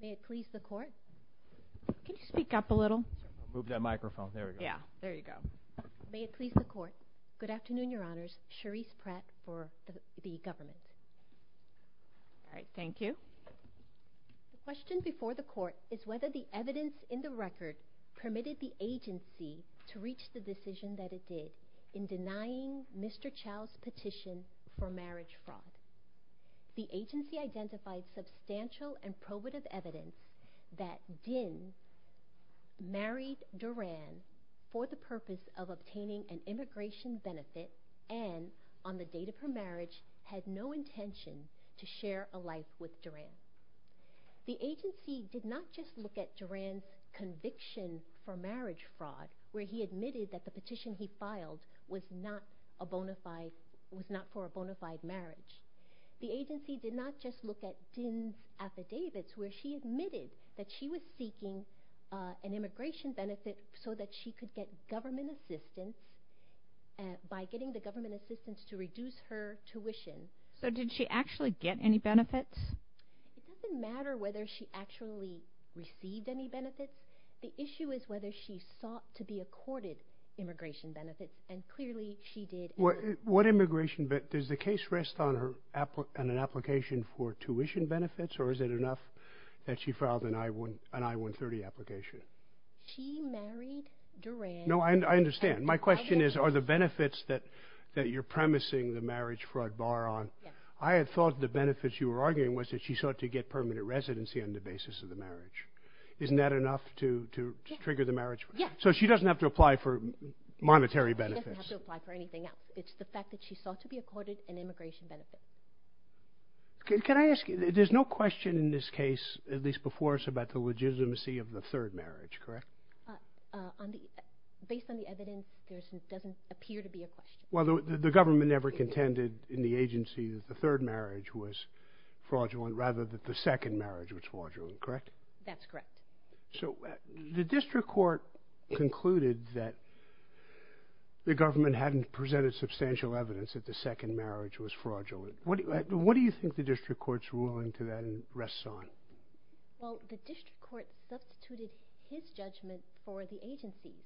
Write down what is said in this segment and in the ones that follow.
May it please the Court? Can you speak up a little? Move that microphone. There we go. Yeah. There you go. May it please the Court? Good afternoon, Your Honors. Cherise Pratt for the government. All right. Thank you. The question before the Court is whether the evidence in the record permitted the agency to reach the decision that it did in denying Mr. Chau's petition for marriage fraud. The agency identified substantial and probative evidence that Dinh married Duran for the purpose of obtaining an immigration benefit and, on the date of her marriage, had no intention to share a life with Duran. The agency did not just look at Duran's conviction for marriage fraud, where he admitted that the petition he filed was not for a bona fide marriage. The agency did not just look at Dinh's affidavits, where she admitted that she was seeking an immigration benefit so that she could get government assistance by getting the government assistance to reduce her tuition. So did she actually get any benefits? It doesn't matter whether she actually received any benefits. The issue is whether she sought to be accorded immigration benefits, and clearly she did. What immigration benefits? Does the case rest on an application for tuition benefits, or is it enough that she filed an I-130 application? She married Duran. No, I understand. My question is, are the benefits that you're premising the marriage fraud bar on? I had thought the benefits you were arguing was that she sought to get permanent residency on the basis of the marriage. Isn't that enough to trigger the marriage fraud? So she doesn't have to apply for monetary benefits? She doesn't have to apply for anything else. It's the fact that she sought to be accorded an immigration benefit. Can I ask you, there's no question in this case, at least before us, about the legitimacy of the third marriage, correct? Based on the evidence, there doesn't appear to be a question. Well, the government never contended in the agency that the third marriage was fraudulent, rather that the second marriage was fraudulent, correct? That's correct. So the district court concluded that the government hadn't presented substantial evidence that the second marriage was fraudulent. What do you think the district court's ruling to that rests on? Well, the district court substituted his judgment for the agency's.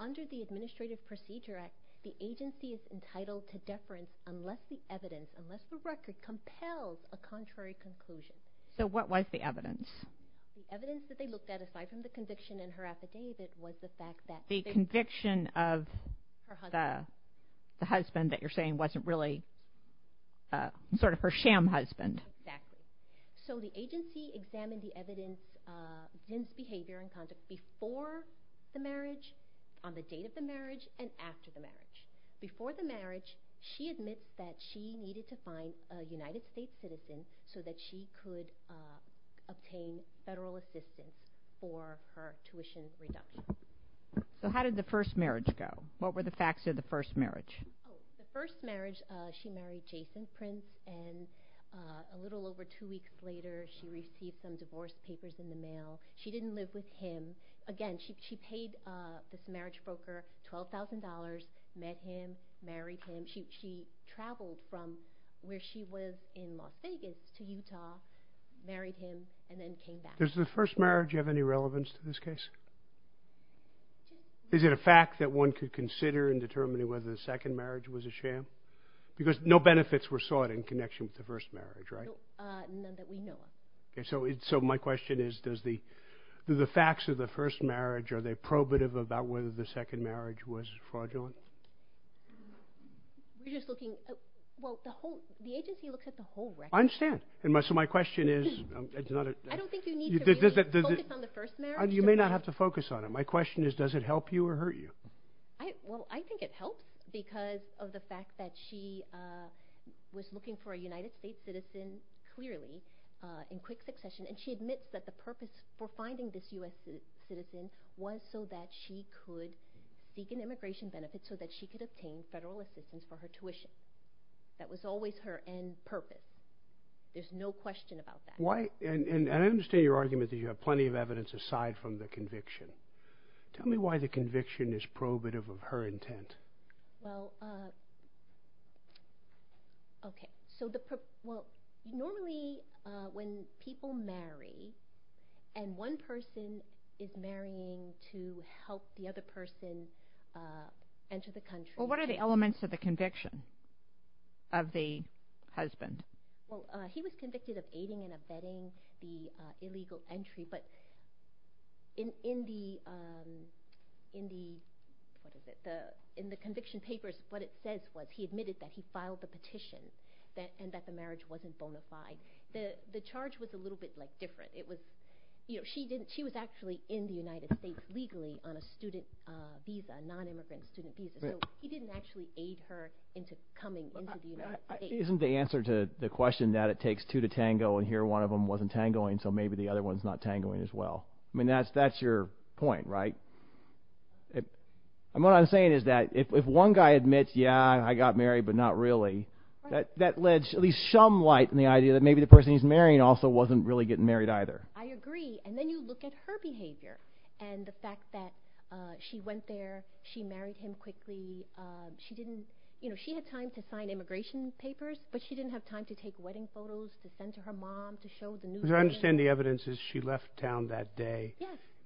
Under the Administrative Procedure Act, the agency is entitled to deference unless the evidence, unless the record, compels a contrary conclusion. So what was the evidence? The evidence that they looked at, aside from the conviction and her affidavit, was the fact that... The conviction of the husband that you're saying wasn't really sort of her sham husband. Exactly. So the agency examined the evidence against behavior and conduct before the marriage, on the date of the marriage, and after the marriage. Before the marriage, she admits that she needed to find a United States citizen so that she could obtain federal assistance for her tuition reduction. So how did the first marriage go? What were the facts of the first marriage? The first marriage, she married Jason Prince, and a little over two weeks later, she received some divorce papers in the mail. She didn't live with him. Again, she paid this marriage broker $12,000, met him, married him. She traveled from where she was in Las Vegas to Utah, married him, and then came back. Does the first marriage have any relevance to this case? Is it a fact that one could consider in determining whether the second marriage was a sham? Because no benefits were sought in connection with the first marriage, right? None that we know of. So my question is, do the facts of the first marriage, are they probative about whether the second marriage was fraudulent? The agency looks at the whole record. I understand. So my question is... I don't think you need to really focus on the first marriage. You may not have to focus on it. My question is, does it help you or hurt you? Well, I think it helps because of the fact that she was looking for a United States citizen, clearly, in quick succession, and she admits that the purpose for finding this U.S. citizen was so that she could seek an immigration benefit, so that she could obtain federal assistance for her tuition. That was always her end purpose. There's no question about that. And I understand your argument that you have plenty of evidence aside from the conviction. Tell me why the conviction is probative of her intent. Well, normally when people marry, and one person is marrying to help the other person enter the country... Well, what are the elements of the conviction of the husband? Well, he was convicted of aiding and abetting the illegal entry. But in the conviction papers, what it says was he admitted that he filed the petition and that the marriage wasn't bona fide. The charge was a little bit different. She was actually in the United States legally on a student visa, a non-immigrant student visa. So he didn't actually aid her into coming into the United States. Isn't the answer to the question that it takes two to tango and here one of them wasn't tangoing, so maybe the other one's not tangoing as well. I mean that's your point, right? And what I'm saying is that if one guy admits, yeah, I got married, but not really, that led at least some light in the idea that maybe the person he's marrying also wasn't really getting married either. I agree. And then you look at her behavior and the fact that she went there, she married him quickly. She had time to sign immigration papers, but she didn't have time to take wedding photos, to send to her mom, to show the newspaper. Because I understand the evidence is she left town that day,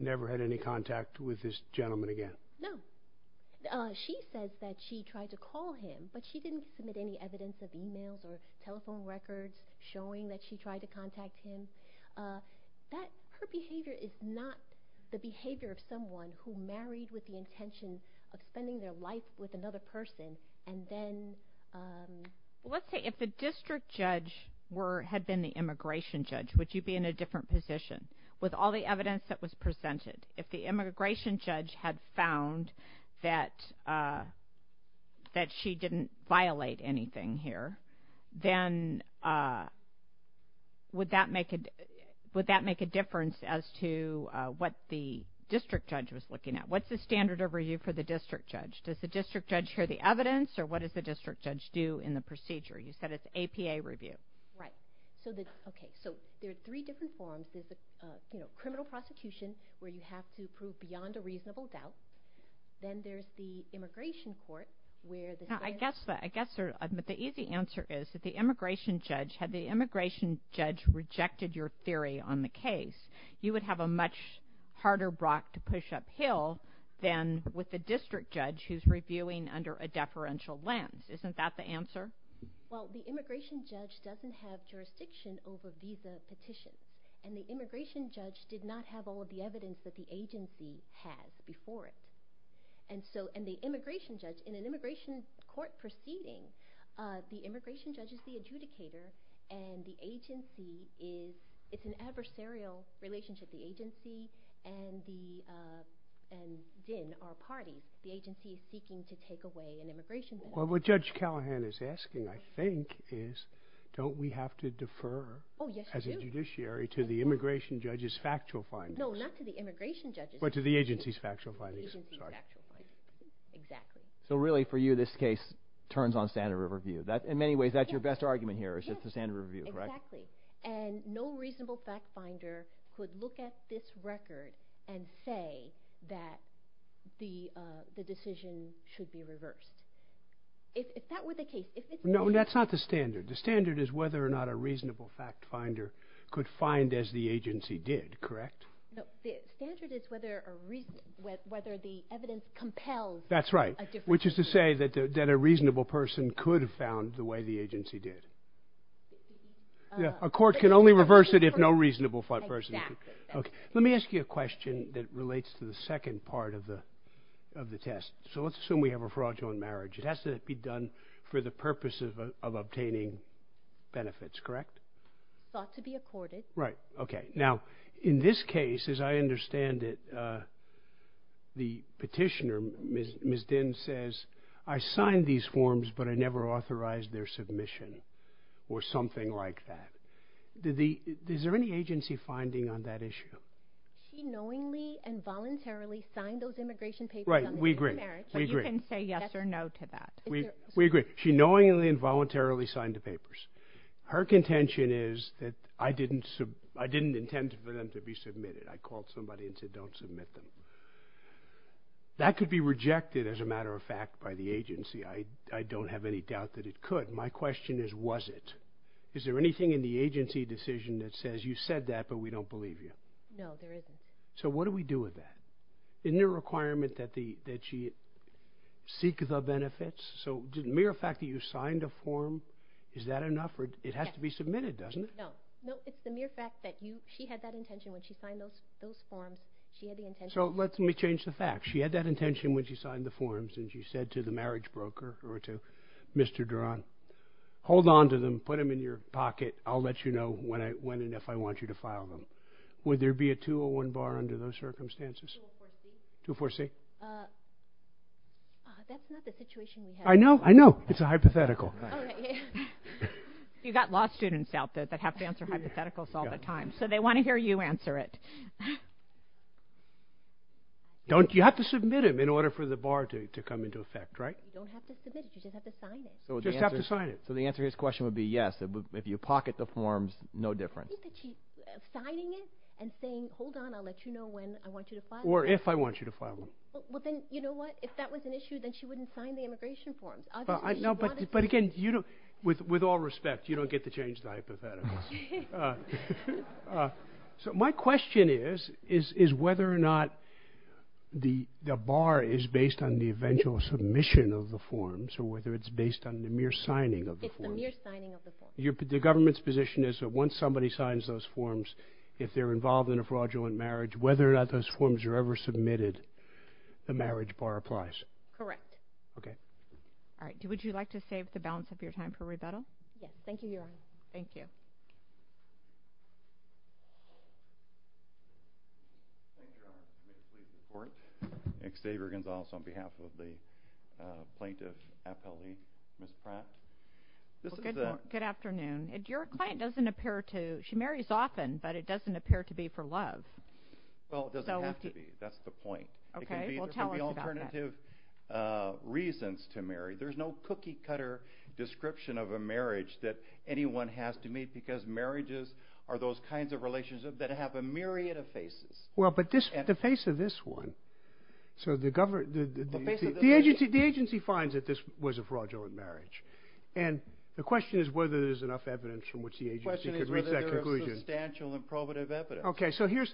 never had any contact with this gentleman again. No. She says that she tried to call him, but she didn't submit any evidence of emails or telephone records showing that she tried to contact him. Her behavior is not the behavior of someone who married with the intention of spending their life with another person and then... Let's say if the district judge had been the immigration judge, would you be in a different position? With all the evidence that was presented, if the immigration judge had found that she didn't violate anything here, then would that make a difference as to what the district judge was looking at? What's the standard of review for the district judge? Does the district judge hear the evidence or what does the district judge do in the procedure? You said it's APA review. Right. Okay, so there are three different forms. There's the criminal prosecution where you have to prove beyond a reasonable doubt. Then there's the immigration court where... I guess the easy answer is that the immigration judge, had the immigration judge rejected your theory on the case, you would have a much harder rock to push uphill than with the district judge who's reviewing under a deferential lens. Isn't that the answer? Well, the immigration judge doesn't have jurisdiction over visa petitions, and the immigration judge did not have all of the evidence that the agency had before it. In an immigration court proceeding, the immigration judge is the adjudicator, and the agency is an adversarial relationship. The agency and ZIN are parties. The agency is seeking to take away an immigration judge. Well, what Judge Callahan is asking, I think, is don't we have to defer as a judiciary to the immigration judge's factual findings? No, not to the immigration judge's factual findings. Exactly. So really, for you, this case turns on standard review. In many ways, that's your best argument here is just the standard review, correct? Exactly. And no reasonable fact finder could look at this record and say that the decision should be reversed. If that were the case... No, that's not the standard. The standard is whether or not a reasonable fact finder could find as the agency did, correct? No, the standard is whether the evidence compels a difference. That's right, which is to say that a reasonable person could have found the way the agency did. A court can only reverse it if no reasonable person could. Exactly. Let me ask you a question that relates to the second part of the test. So let's assume we have a fraudulent marriage. It has to be done for the purpose of obtaining benefits, correct? Thought to be accorded. Right. Okay. Now, in this case, as I understand it, the petitioner, Ms. Dinh, says, I signed these forms, but I never authorized their submission or something like that. Is there any agency finding on that issue? She knowingly and voluntarily signed those immigration papers. Right, we agree. But you can say yes or no to that. We agree. She knowingly and voluntarily signed the papers. Her contention is that I didn't intend for them to be submitted. I called somebody and said don't submit them. That could be rejected, as a matter of fact, by the agency. I don't have any doubt that it could. My question is, was it? Is there anything in the agency decision that says you said that, but we don't believe you? No, there isn't. So what do we do with that? Isn't there a requirement that she seek the benefits? So the mere fact that you signed a form, is that enough? It has to be submitted, doesn't it? No. No, it's the mere fact that she had that intention when she signed those forms. She had the intention. So let me change the facts. She had that intention when she signed the forms, and she said to the marriage broker or to Mr. Duran, hold on to them. Put them in your pocket. I'll let you know when and if I want you to file them. Would there be a 201 bar under those circumstances? 204C. 204C. That's not the situation we have. I know. I know. It's a hypothetical. You've got law students out there that have to answer hypotheticals all the time, so they want to hear you answer it. You have to submit them in order for the bar to come into effect, right? You don't have to submit it. You just have to sign it. Just have to sign it. So the answer to his question would be yes. If you pocket the forms, no difference. I think that she's signing it and saying, hold on, I'll let you know when I want you to file them. Or if I want you to file them. Well, then, you know what? If that was an issue, then she wouldn't sign the immigration forms. No, but again, with all respect, you don't get to change the hypotheticals. So my question is whether or not the bar is based on the eventual submission of the forms or whether it's based on the mere signing of the forms. It's the mere signing of the forms. The government's position is that once somebody signs those forms, if they're involved in a fraudulent marriage, whether or not those forms are ever submitted, the marriage bar applies. Correct. Okay. All right. Would you like to save the balance of your time for rebuttal? Yes. Thank you, Your Honor. Thank you. Xavier Gonzalez on behalf of the plaintiff appellee. Ms. Pratt. Good afternoon. Good afternoon. Your client doesn't appear to, she marries often, but it doesn't appear to be for love. Well, it doesn't have to be. That's the point. Well, tell us about that. There can be alternative reasons to marry. There's no cookie-cutter description of a marriage that anyone has to meet because marriages are those kinds of relationships that have a myriad of faces. Well, but the face of this one, so the government, the agency finds that this was a fraudulent marriage. And the question is whether there's enough evidence from which the agency could reach that conclusion. The question is whether there is substantial and probative evidence. Okay. So here's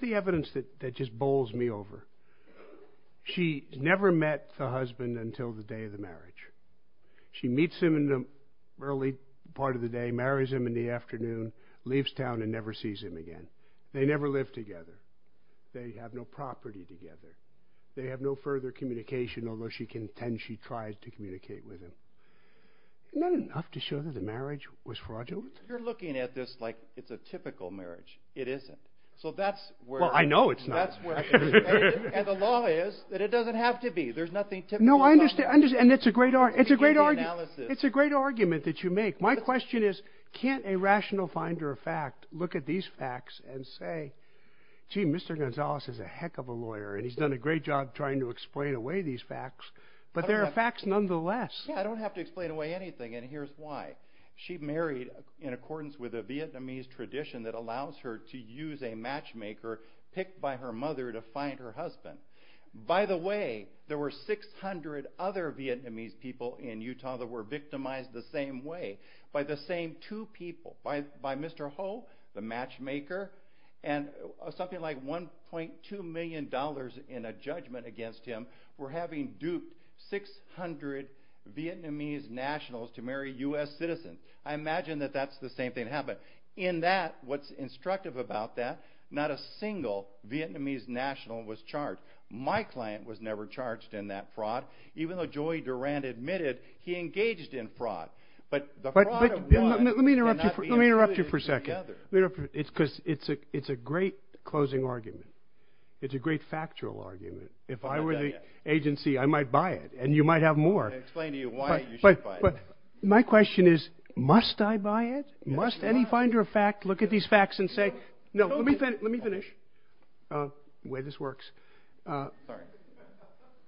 the evidence that just bowls me over. She never met the husband until the day of the marriage. She meets him in the early part of the day, marries him in the afternoon, leaves town and never sees him again. They never live together. They have no property together. They have no further communication, although she can intend she tried to communicate with him. Not enough to show that the marriage was fraudulent. You're looking at this like it's a typical marriage. It isn't. So that's where. Well, I know it's not. That's where. And the law is that it doesn't have to be. There's nothing typical about marriage. No, I understand. And it's a great argument. It's a great argument that you make. My question is, can't a rational finder of fact look at these facts and say, gee, Mr. Ho has done a great job trying to explain away these facts, but there are facts nonetheless. Yeah, I don't have to explain away anything. And here's why. She married in accordance with a Vietnamese tradition that allows her to use a matchmaker picked by her mother to find her husband. By the way, there were 600 other Vietnamese people in Utah that were victimized the same way by the same two people, by Mr. Ho, the matchmaker, and something like $1.2 million in a judgment against him for having duped 600 Vietnamese nationals to marry U.S. citizens. I imagine that that's the same thing happened. In that, what's instructive about that, not a single Vietnamese national was charged. My client was never charged in that fraud, even though Joey Durant admitted he engaged in fraud. Let me interrupt you for a second. It's because it's a great closing argument. It's a great factual argument. If I were the agency, I might buy it, and you might have more. I can explain to you why you should buy it. My question is, must I buy it? Must any finder of fact look at these facts and say, no, let me finish the way this works. Sorry.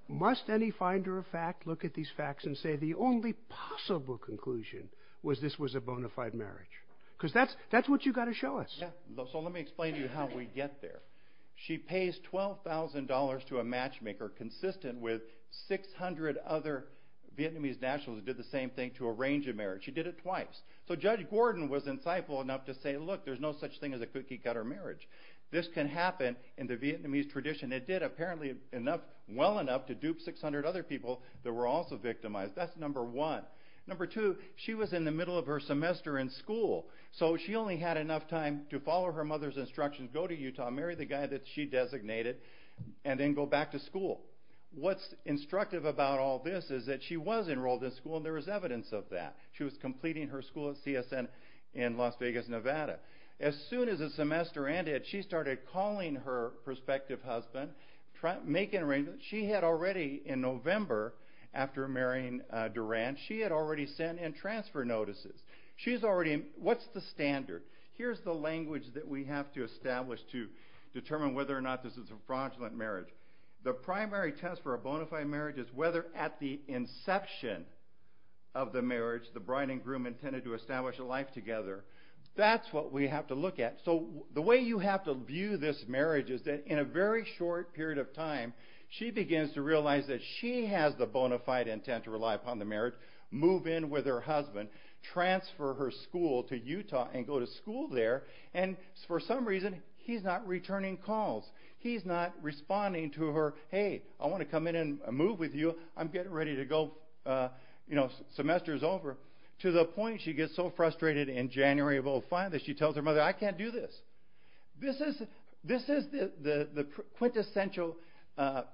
Must any finder of fact look at these facts and say the only possible conclusion was this was a bona fide marriage? Because that's what you've got to show us. Let me explain to you how we get there. She pays $12,000 to a matchmaker consistent with 600 other Vietnamese nationals who did the same thing to arrange a marriage. She did it twice. Judge Gordon was insightful enough to say, look, there's no such thing as a cookie-cutter marriage. This can happen in the Vietnamese tradition. It did apparently well enough to dupe 600 other people that were also victimized. That's number one. Number two, she was in the middle of her semester in school, so she only had enough time to follow her mother's instructions, go to Utah, marry the guy that she designated, and then go back to school. What's instructive about all this is that she was enrolled in school, and there was evidence of that. She was completing her school at CSN in Las Vegas, Nevada. As soon as the semester ended, she started calling her prospective husband, making arrangements. She had already, in November, after marrying Duran, she had already sent in transfer notices. She's already, what's the standard? Here's the language that we have to establish to determine whether or not this is a fraudulent marriage. The primary test for a bona fide marriage is whether at the inception of the marriage, the bride and groom intended to establish a life together. That's what we have to look at. The way you have to view this marriage is that in a very short period of time, she begins to realize that she has the bona fide intent to rely upon the marriage, move in with her husband, transfer her school to Utah and go to school there, and for some reason, he's not returning calls. He's not responding to her, hey, I want to come in and move with you. I'm getting ready to go. Semester's over. To the point she gets so frustrated in January of 2005 that she tells her mother, I can't do this. This is the quintessential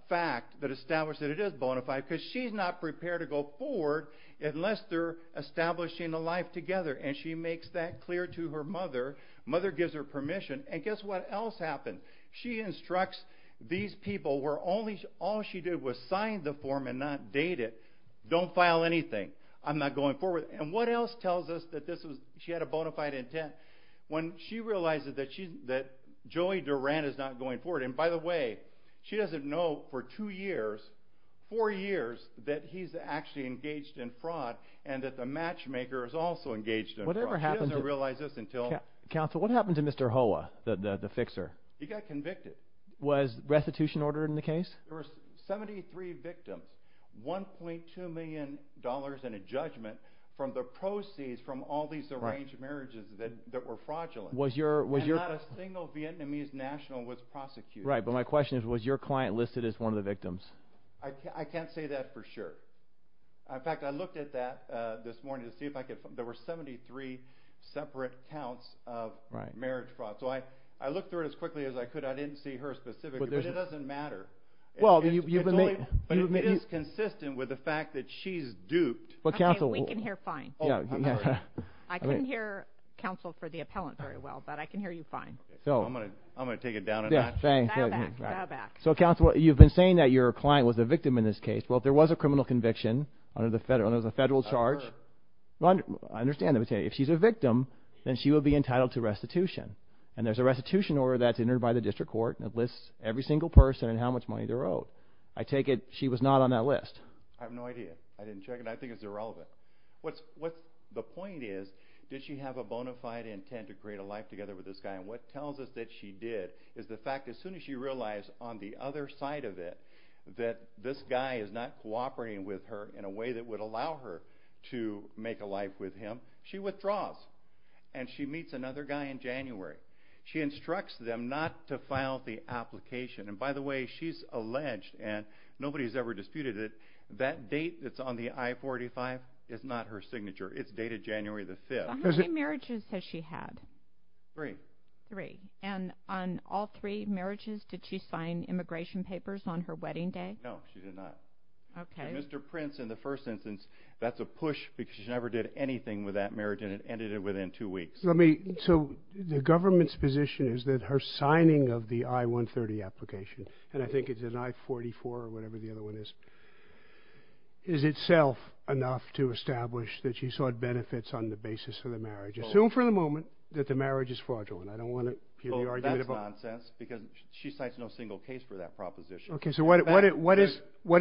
fact that establishes that it is bona fide because she's not prepared to go forward unless they're establishing a life together, and she makes that clear to her mother. Mother gives her permission, and guess what else happens? She instructs these people where all she did was sign the form and not date it. Don't file anything. I'm not going forward. And what else tells us that she had a bona fide intent? When she realizes that Joey Duran is not going forward, and by the way, she doesn't know for two years, four years, that he's actually engaged in fraud and that the matchmaker is also engaged in fraud. She doesn't realize this until. Counsel, what happened to Mr. Hoa, the fixer? He got convicted. Was restitution ordered in the case? There were 73 victims, $1.2 million in a judgment from the proceeds from all these arranged marriages that were fraudulent, and not a single Vietnamese national was prosecuted. Right, but my question is was your client listed as one of the victims? I can't say that for sure. In fact, I looked at that this morning to see if I could. There were 73 separate counts of marriage fraud. So I looked through it as quickly as I could. I didn't see her specifically, but it doesn't matter. It is consistent with the fact that she's duped. Okay, we can hear fine. I couldn't hear counsel for the appellant very well, but I can hear you fine. I'm going to take it down a notch. Dial back, dial back. So, counsel, you've been saying that your client was a victim in this case. Well, if there was a criminal conviction under the federal charge, I understand that. If she's a victim, then she would be entitled to restitution, and there's a restitution order that's entered by the district court that lists every single person and how much money they're owed. I take it she was not on that list. I have no idea. I didn't check it. I think it's irrelevant. The point is, did she have a bona fide intent to create a life together with this guy? And what tells us that she did is the fact that as soon as she realized on the other side of it that this guy is not cooperating with her in a way that would allow her to make a life with him, she withdraws and she meets another guy in January. She instructs them not to file the application. And by the way, she's alleged, and nobody's ever disputed it, that date that's on the I-45 is not her signature. It's dated January the 5th. How many marriages has she had? Three. Three. And on all three marriages, did she sign immigration papers on her wedding day? No, she did not. Okay. And Mr. Prince, in the first instance, that's a push because she never did anything with that marriage, and it ended within two weeks. So the government's position is that her signing of the I-130 application, and I think it's an I-44 or whatever the other one is, is itself enough to establish that she sought benefits on the basis of the marriage. Assume for the moment that the marriage is fraudulent. I don't want to hear the argument about— That's nonsense because she cites no single case for that proposition. Okay. So what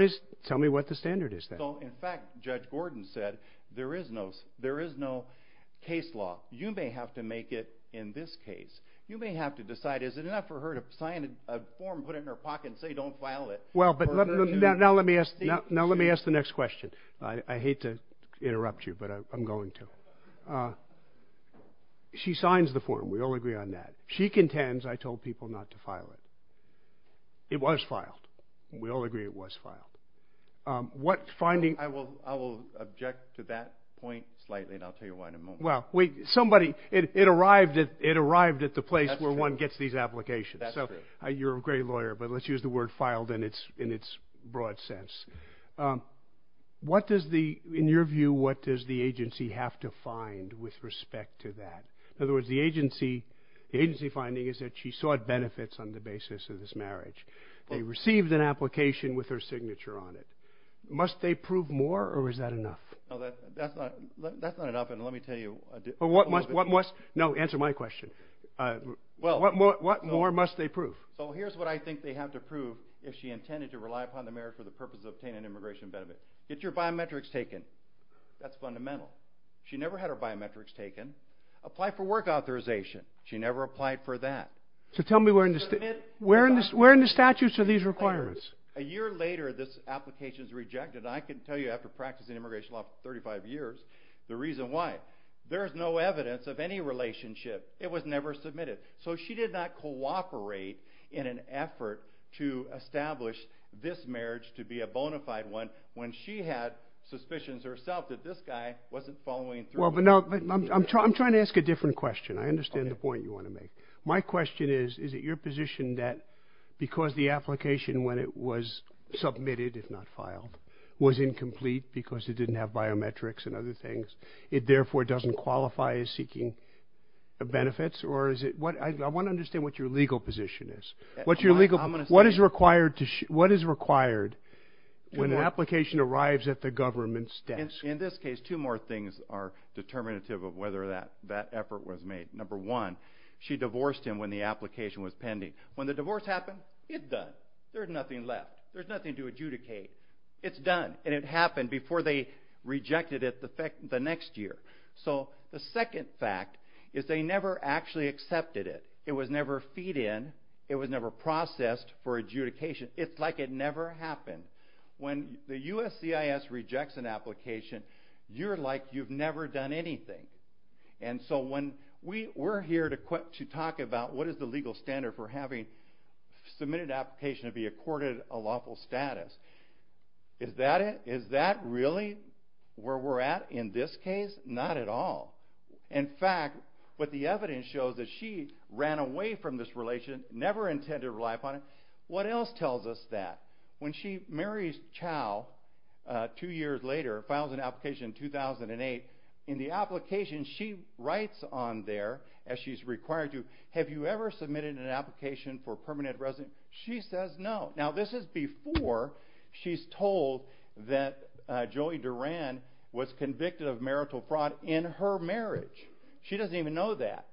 is—tell me what the standard is then. In fact, Judge Gordon said there is no case law. You may have to make it in this case. You may have to decide is it enough for her to sign a form, put it in her pocket, and say don't file it? Well, now let me ask the next question. I hate to interrupt you, but I'm going to. She signs the form. We all agree on that. She contends I told people not to file it. It was filed. We all agree it was filed. I will object to that point slightly, and I'll tell you why in a moment. Well, somebody—it arrived at the place where one gets these applications. That's true. You're a great lawyer, but let's use the word filed in its broad sense. What does the—in your view, what does the agency have to find with respect to that? In other words, the agency finding is that she sought benefits on the basis of this marriage. They received an application with her signature on it. Must they prove more, or is that enough? No, that's not enough, and let me tell you— What must—no, answer my question. What more must they prove? So here's what I think they have to prove if she intended to rely upon the marriage for the purpose of obtaining an immigration benefit. Get your biometrics taken. That's fundamental. She never had her biometrics taken. Apply for work authorization. She never applied for that. So tell me where in the statutes are these requirements? A year later, this application is rejected. I can tell you after practicing immigration law for 35 years the reason why. There is no evidence of any relationship. It was never submitted. So she did not cooperate in an effort to establish this marriage to be a bona fide one when she had suspicions herself that this guy wasn't following through. Well, but no, I'm trying to ask a different question. I understand the point you want to make. My question is, is it your position that because the application, when it was submitted, if not filed, was incomplete because it didn't have biometrics and other things, it therefore doesn't qualify as seeking benefits? I want to understand what your legal position is. What is required when an application arrives at the government's desk? In this case, two more things are determinative of whether that effort was made. Number one, she divorced him when the application was pending. When the divorce happened, it's done. There's nothing left. There's nothing to adjudicate. It's done, and it happened before they rejected it the next year. So the second fact is they never actually accepted it. It was never feed in. It was never processed for adjudication. It's like it never happened. When the USCIS rejects an application, you're like you've never done anything. So we're here to talk about what is the legal standard for having submitted an application to be accorded a lawful status. Is that really where we're at in this case? Not at all. In fact, what the evidence shows is she ran away from this relation, never intended to rely upon it. What else tells us that? When she marries Chow two years later, files an application in 2008, in the application she writes on there, as she's required to, have you ever submitted an application for permanent residence? She says no. Now, this is before she's told that Joey Duran was convicted of marital fraud in her marriage. She doesn't even know that.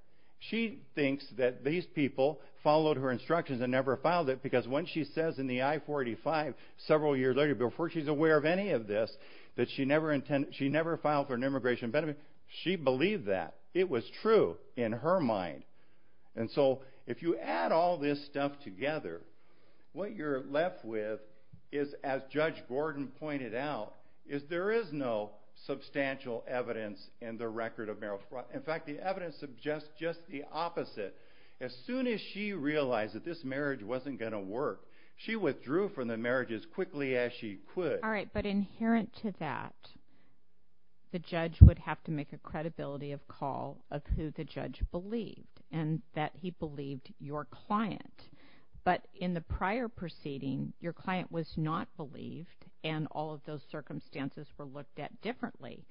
She thinks that these people followed her instructions and never filed it because when she says in the I-485 several years later, before she's aware of any of this, that she never filed for an immigration benefit, she believed that. It was true in her mind. So if you add all this stuff together, what you're left with is, as Judge Gordon pointed out, is there is no substantial evidence in the record of marital fraud. In fact, the evidence suggests just the opposite. As soon as she realized that this marriage wasn't going to work, she withdrew from the marriage as quickly as she could. All right, but inherent to that, the judge would have to make a credibility of call of who the judge believed and that he believed your client. But in the prior proceeding, your client was not believed and all of those circumstances were looked at differently.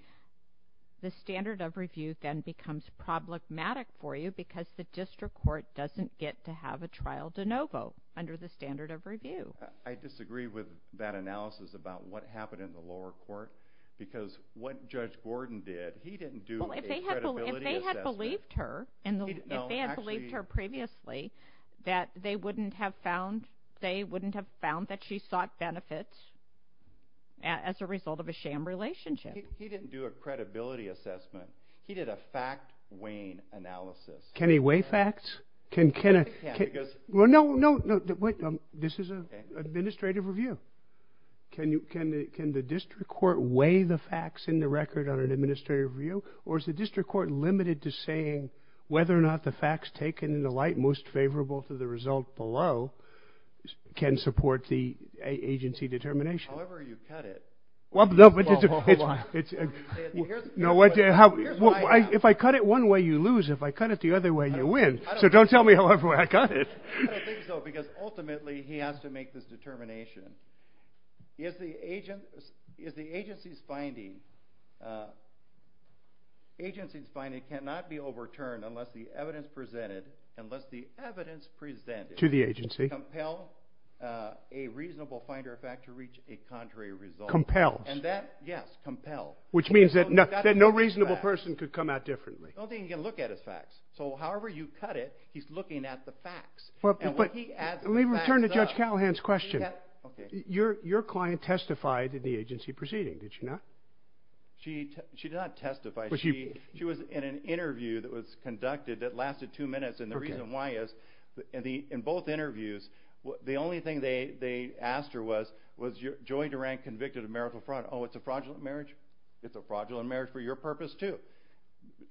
The standard of review then becomes problematic for you because the district court doesn't get to have a trial de novo under the standard of review. I disagree with that analysis about what happened in the lower court because what Judge Gordon did, he didn't do a credibility assessment. Well, if they had believed her previously, they wouldn't have found that she sought benefits as a result of a sham relationship. He didn't do a credibility assessment. He did a fact-weighing analysis. Can he weigh facts? Well, no, no. This is an administrative review. Can the district court weigh the facts in the record on an administrative review or is the district court limited to saying whether or not the facts taken in the light most favorable to the result below can support the agency determination? However you cut it. Well, hold on. If I cut it one way, you lose. If I cut it the other way, you win. So don't tell me however I cut it. I don't think so because ultimately he has to make this determination. Is the agency's finding cannot be overturned unless the evidence presented to the agency compels a reasonable finder of fact to reach a contrary result And that, yes, compels. Which means that no reasonable person could come out differently. The only thing he can look at is facts. So however you cut it, he's looking at the facts. Let me return to Judge Callahan's question. Your client testified at the agency proceeding, did she not? She did not testify. She was in an interview that was conducted that lasted two minutes. And the reason why is in both interviews, the only thing they asked her was, was Joey Durant convicted of marital fraud? Oh, it's a fraudulent marriage? It's a fraudulent marriage for your purpose, too.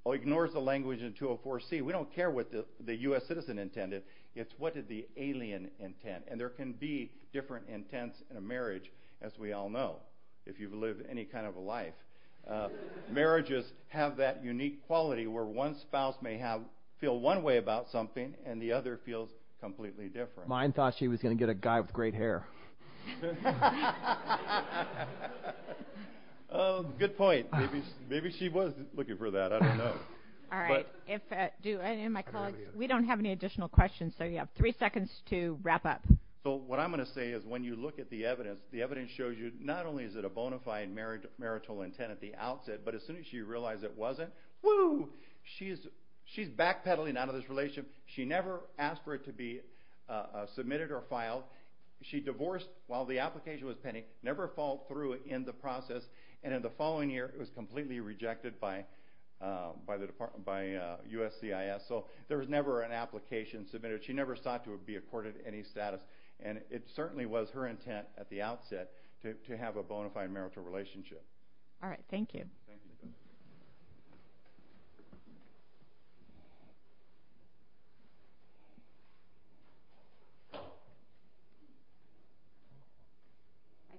Oh, he ignores the language in 204C. We don't care what the U.S. citizen intended. It's what did the alien intend. And there can be different intents in a marriage, as we all know, if you've lived any kind of a life. Marriages have that unique quality where one spouse may feel one way about something and the other feels completely different. Mine thought she was going to get a guy with great hair. Good point. Maybe she was looking for that. I don't know. All right. We don't have any additional questions, so you have three seconds to wrap up. So what I'm going to say is when you look at the evidence, the evidence shows you not only is it a bona fide marital intent at the outset, but as soon as you realize it wasn't, whoo, she's backpedaling out of this relationship. She never asked for it to be submitted or filed. She divorced while the application was pending, never followed through in the process, and in the following year it was completely rejected by USCIS. So there was never an application submitted. She never sought to be accorded any status, and it certainly was her intent at the outset to have a bona fide marital relationship. All right. Thank you. I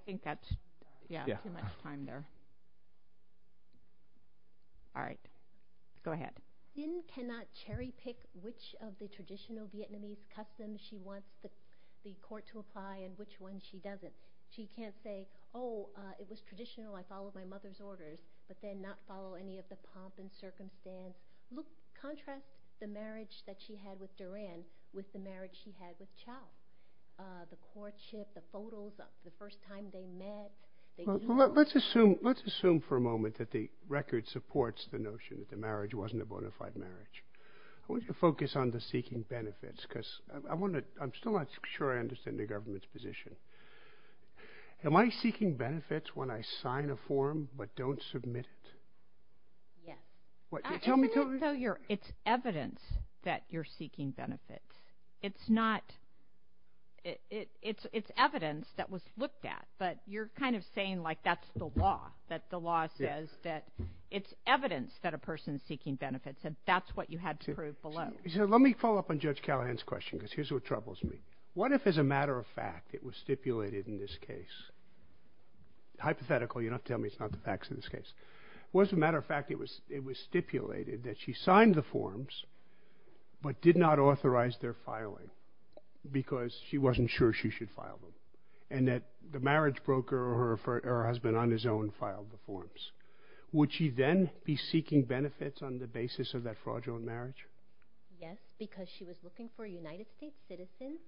think that's too much time there. All right. Go ahead. Lynn cannot cherry pick which of the traditional Vietnamese customs she wants the court to apply and which ones she doesn't. She can't say, oh, it was traditional, I followed my mother's orders, but then not follow any of the pomp and circumstance. Contrast the marriage that she had with Duran with the marriage she had with Chau, the courtship, the photos, the first time they met. Let's assume for a moment that the record supports the notion that the marriage wasn't a bona fide marriage. I want you to focus on the seeking benefits because I'm still not sure I understand the government's position. Am I seeking benefits when I sign a form but don't submit it? Yes. Tell me. It's evidence that you're seeking benefits. It's evidence that was looked at, but you're kind of saying like that's the law, that the law says that it's evidence that a person is seeking benefits, and that's what you had to prove below. Let me follow up on Judge Callahan's question because here's what troubles me. What if, as a matter of fact, it was stipulated in this case? Hypothetical. You don't have to tell me it's not the facts in this case. What if, as a matter of fact, it was stipulated that she signed the forms but did not authorize their filing because she wasn't sure she should file them and that the marriage broker or her husband on his own filed the forms? Would she then be seeking benefits on the basis of that fraudulent marriage? Yes, because she was looking for a United States citizen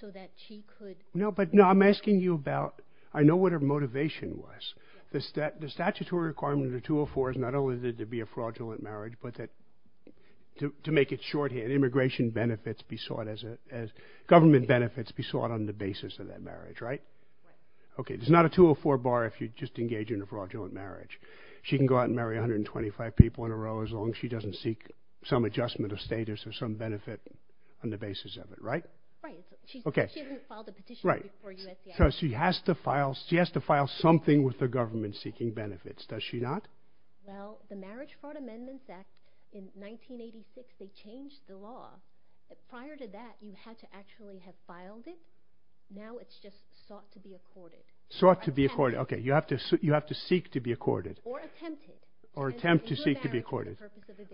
so that she could... No, but I'm asking you about I know what her motivation was. The statutory requirement of the 204 is not only to be a fraudulent marriage but to make it shorthand, government benefits be sought on the basis of that marriage, right? Right. Okay, there's not a 204 bar if you just engage in a fraudulent marriage. She can go out and marry 125 people in a row as long as she doesn't seek some adjustment of status or some benefit on the basis of it, right? Right. Okay. She hasn't filed a petition before USCIS. Right. So she has to file something with the government seeking benefits, does she not? Well, the Marriage Fraud Amendments Act in 1986, they changed the law. Prior to that, you had to actually have filed it. Now it's just sought to be accorded. Sought to be accorded. Okay, you have to seek to be accorded. Or attempted. Or attempt to seek to be accorded.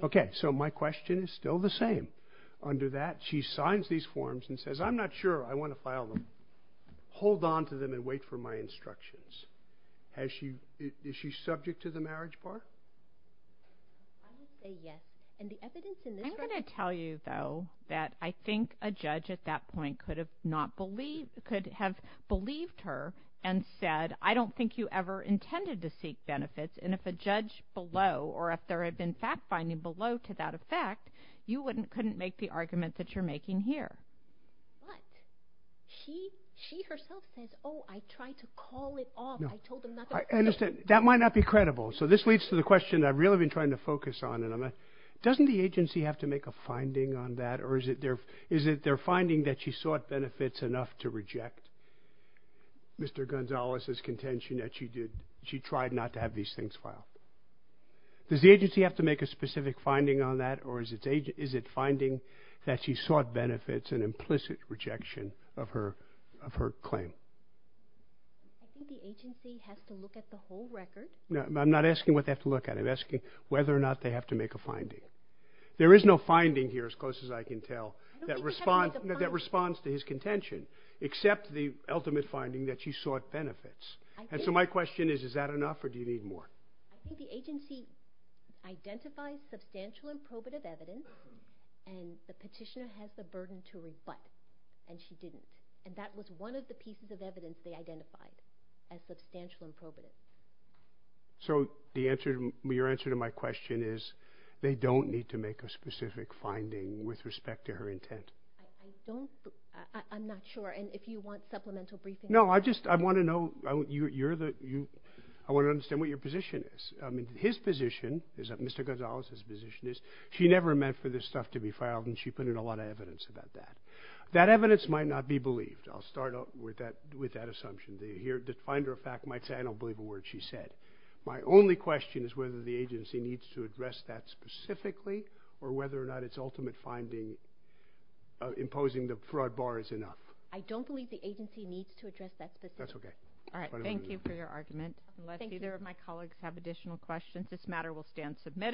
Okay, so my question is still the same. Under that, she signs these forms and says, I'm not sure I want to file them. Hold on to them and wait for my instructions. Is she subject to the marriage bar? I would say yes. I'm going to tell you, though, that I think a judge at that point could have believed her and said, I don't think you ever intended to seek benefits. And if a judge below or if there had been fact-finding below to that effect, you couldn't make the argument that you're making here. But she herself says, oh, I tried to call it off. I told them not to. I understand. That might not be credible. So this leads to the question I've really been trying to focus on. Doesn't the agency have to make a finding on that, or is it their finding that she sought benefits enough to reject Mr. Does the agency have to make a specific finding on that, or is it finding that she sought benefits, an implicit rejection of her claim? I think the agency has to look at the whole record. I'm not asking what they have to look at. I'm asking whether or not they have to make a finding. There is no finding here, as close as I can tell, that responds to his contention, except the ultimate finding that she sought benefits. And so my question is, is that enough or do you need more? I think the agency identifies substantial and probative evidence, and the petitioner has the burden to reflect, and she didn't. And that was one of the pieces of evidence they identified, as substantial and probative. So your answer to my question is they don't need to make a specific finding with respect to her intent? I'm not sure. And if you want supplemental briefing. No, I just want to know, I want to understand what your position is. His position, Mr. Gonzalez's position is she never meant for this stuff to be filed, and she put in a lot of evidence about that. That evidence might not be believed. I'll start with that assumption. The finder of fact might say, I don't believe a word she said. My only question is whether the agency needs to address that specifically or whether or not its ultimate finding imposing the fraud bar is enough. I don't believe the agency needs to address that specifically. Thank you for your argument. Unless either of my colleagues have additional questions, this matter will stand submitted.